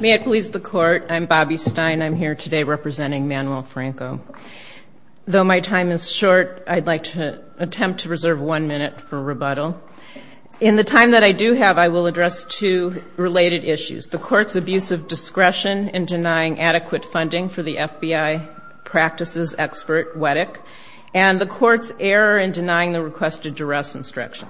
May it please the Court, I'm Bobbi Stein. I'm here today representing Manuel Franco. Though my time is short, I'd like to attempt to reserve one minute for rebuttal. In the time that I do have, I will address two related issues. The Court's abuse of discretion in denying adequate funding for the FBI practices expert Wettick, and the Court's error in denying the requested duress instruction.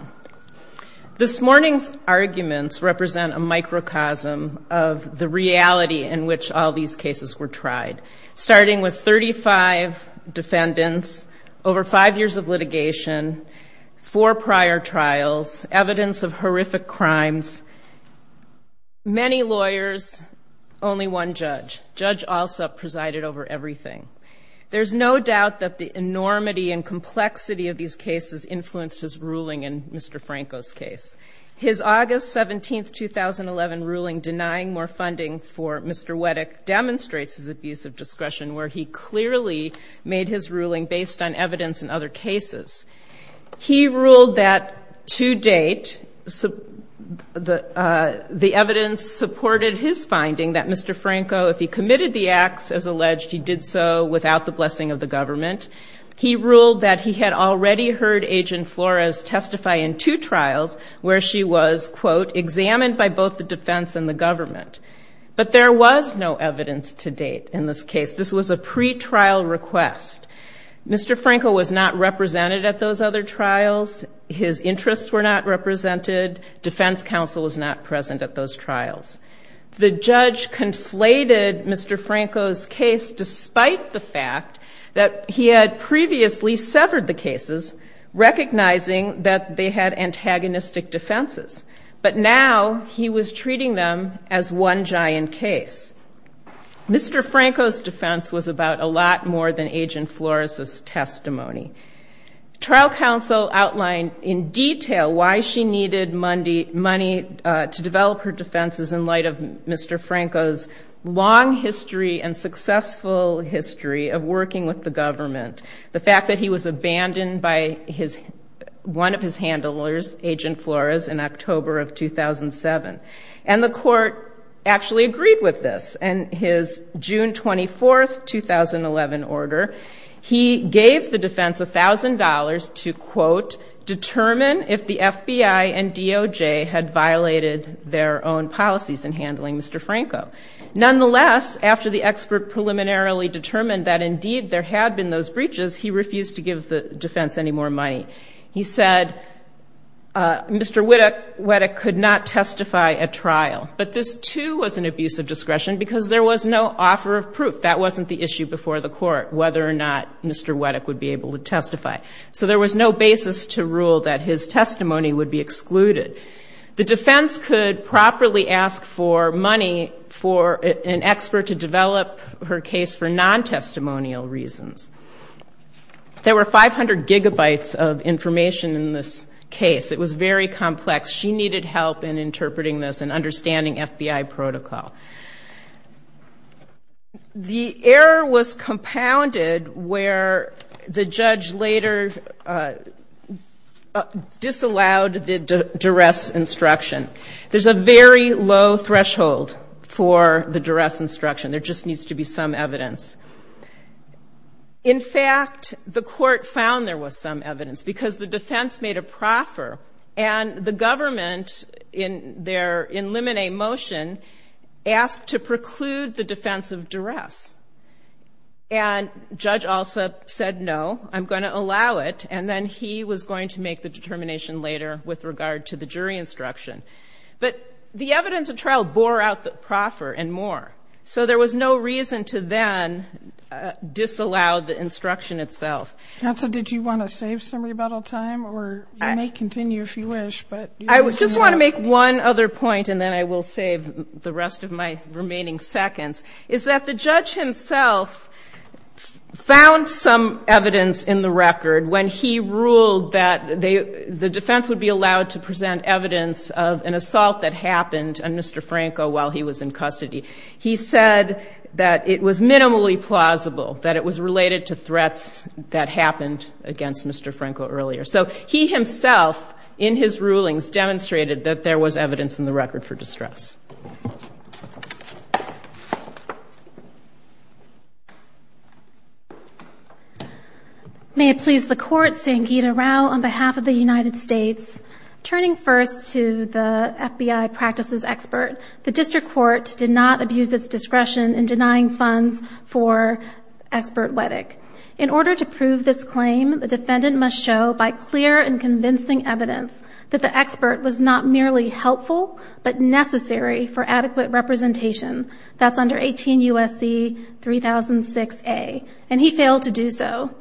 This morning's arguments represent a microcosm of the reality in which all these cases were tried. Starting with 35 defendants, over five years of litigation, four prior trials, evidence of horrific crimes, many lawyers, only one judge. Judge Alsup presided over everything. There's no doubt that the enormity and complexity of these cases influenced his ruling in Mr. Wettick's case. His August 17, 2011 ruling denying more funding for Mr. Wettick demonstrates his abuse of discretion, where he clearly made his ruling based on evidence in other cases. He ruled that to date the evidence supported his finding that Mr. Franco, if he committed the acts as alleged, he did so without the blessing of the government. There were two trials where she was, quote, examined by both the defense and the government. But there was no evidence to date in this case. This was a pretrial request. Mr. Franco was not represented at those other trials. His interests were not represented. Defense counsel was not present at those trials. The judge conflated Mr. Franco's case despite the fact that he had previously severed the cases, recognizing that they had antagonistic defenses, but now he was treating them as one giant case. Mr. Franco's defense was about a lot more than Agent Flores' testimony. Trial counsel outlined in detail why she needed money to develop her defenses in light of Mr. Franco's long history and successful history of working with the government. Mr. Franco's defense was to be reviewed by one of his handlers, Agent Flores, in October of 2007. And the court actually agreed with this. In his June 24, 2011 order, he gave the defense $1,000 to, quote, determine if the FBI and DOJ had violated their own policies in handling Mr. Franco. Nonetheless, after the expert preliminarily determined that, indeed, there had been those breaches, he refused to give the defense any more money. He said Mr. Wettick could not testify at trial, but this, too, was an abuse of discretion because there was no offer of proof. That wasn't the issue before the court, whether or not Mr. Wettick would be able to testify. So there was no basis to rule that his testimony would be excluded. The defense could properly ask for money for an expert to develop her case for non-testimonial reasons. There were 500 gigabytes of information in this case. It was very complex. She needed help in interpreting this and understanding FBI protocol. The error was compounded where the judge later disallowed the duress instruction. There's a very low threshold for the duress instruction. There just needs to be some evidence. In fact, the court found there was some evidence because the defense made a proffer, and the government, in their in limine motion, asked to preclude the defense of duress. And Judge Alsop said, no, I'm going to allow it, and then he was going to make the determination later with regard to the jury instruction. But the evidence of trial bore out the proffer and more. So there was no reason to then disallow the instruction itself. Counsel, did you want to save some rebuttal time, or you may continue if you wish, but... I just want to make one other point, and then I will save the rest of my remaining seconds, is that the judge himself found some evidence in the record when he ruled that the defense would be allowed to present evidence of duress. In the case of an assault that happened on Mr. Franco while he was in custody, he said that it was minimally plausible, that it was related to threats that happened against Mr. Franco earlier. So he himself, in his rulings, demonstrated that there was evidence in the record for duress. May it please the Court, Sangita Rao, on behalf of the United States. Turning first to the FBI practices expert, the district court did not abuse its discretion in denying funds for expert WEDEC. In order to prove this claim, the defendant must show by clear and convincing evidence that the expert was not merely helpful, but necessary for adequate representation. That's under 18 U.S.C. 3006a, and he failed to do so.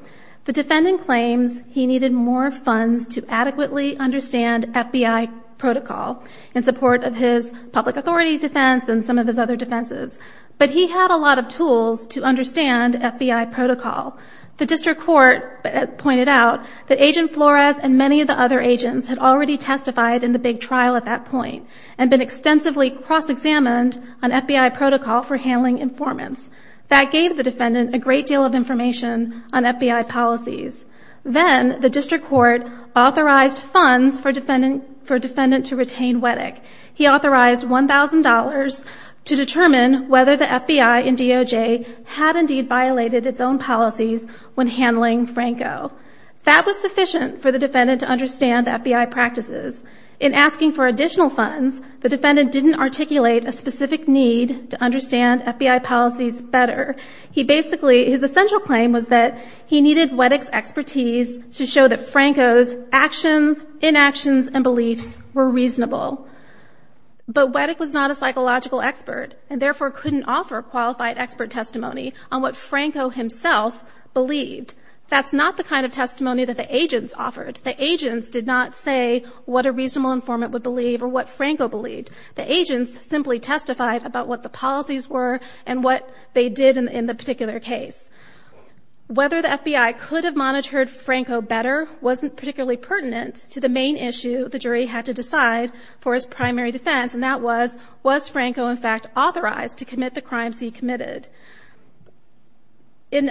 The defendant claims he needed more funds to adequately understand FBI protocol, in support of his public authority defense and some of his other defenses. But he had a lot of tools to understand FBI protocol. The district court pointed out that Agent Flores and many of the other agents had already testified in the big trial at that point, and been extensively cross-examined on FBI protocol for handling informants. That gave the defendant a great deal of information on FBI policies. Then, the district court authorized funds for a defendant to retain WEDEC. He authorized $1,000 to determine whether the FBI in DOJ had indeed violated its own policy, when handling Franco. That was sufficient for the defendant to understand FBI practices. In asking for additional funds, the defendant didn't articulate a specific need to understand FBI policies better. He basically, his essential claim was that he needed WEDEC's expertise to show that Franco's actions, inactions, and beliefs were reasonable. But WEDEC was not a psychological expert, and therefore couldn't offer qualified expert testimony on what Franco himself believed. That's not the kind of testimony that the agents offered. The agents did not say what a reasonable informant would believe or what Franco believed. The agents simply testified about what the policies were and what they did in the particular case. Whether the FBI could have monitored Franco better wasn't particularly pertinent to the main issue the jury had to decide for his primary defense, and that was, was Franco in fact authorized to commit the crimes he committed? In,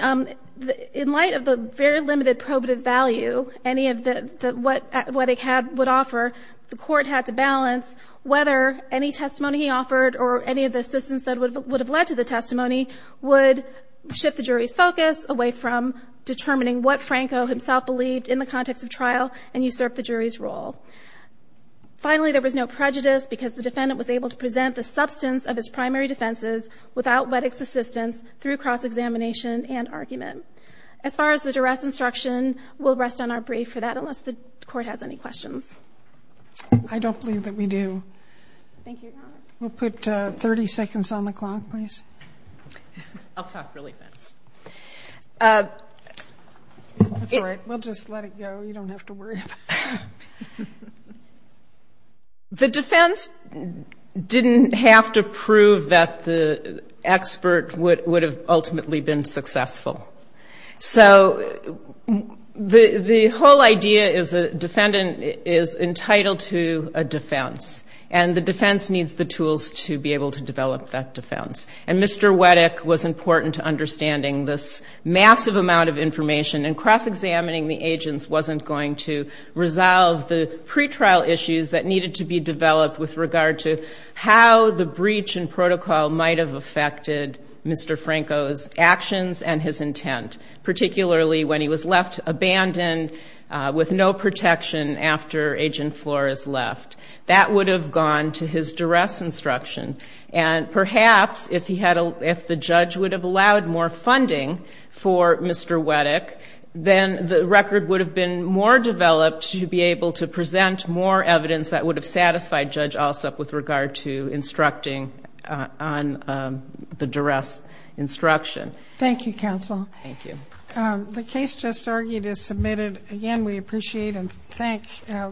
in light of the very limited probative value any of the, what WEDEC had, would offer, the court had to balance whether any testimony he offered or any of the assistance that would have led to the testimony would shift the jury's focus away from determining what Franco himself believed in the context of trial and usurp the jury's role. Finally, there was no prejudice because the defendant was able to present the substance of his primary defenses without WEDEC's assistance through cross-examination and argument. As far as the duress instruction, we'll rest on our brave for that unless the court has any questions. I don't believe that we do. Thank you. We'll put 30 seconds on the clock, please. I'll talk really fast. That's all right. We'll just let it go. You don't have to worry about it. The defense didn't have to prove that the expert would, would have ultimately been successful. So the, the whole idea is a defendant is entitled to a defense, and the defense needs the tools to be able to develop that defense, and Mr. WEDEC was important to understanding this massive amount of information, and cross-examining the agents wasn't going to resolve the pretrial issues that needed to be developed with regard to how the breach and protocol might have affected Mr. Franco's actions and his intent, particularly when he was left abandoned with no protection after Agent Flores left. That would have gone to his duress instruction, and perhaps if he had a, if the judge would have allowed more information, more developed, he would be able to present more evidence that would have satisfied Judge Alsup with regard to instructing on the duress instruction. Thank you, counsel. The case just argued is submitted. Again, we appreciate and thank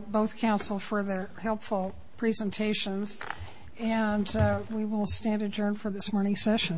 both counsel for their helpful presentations, and we will stand adjourned for this morning's session.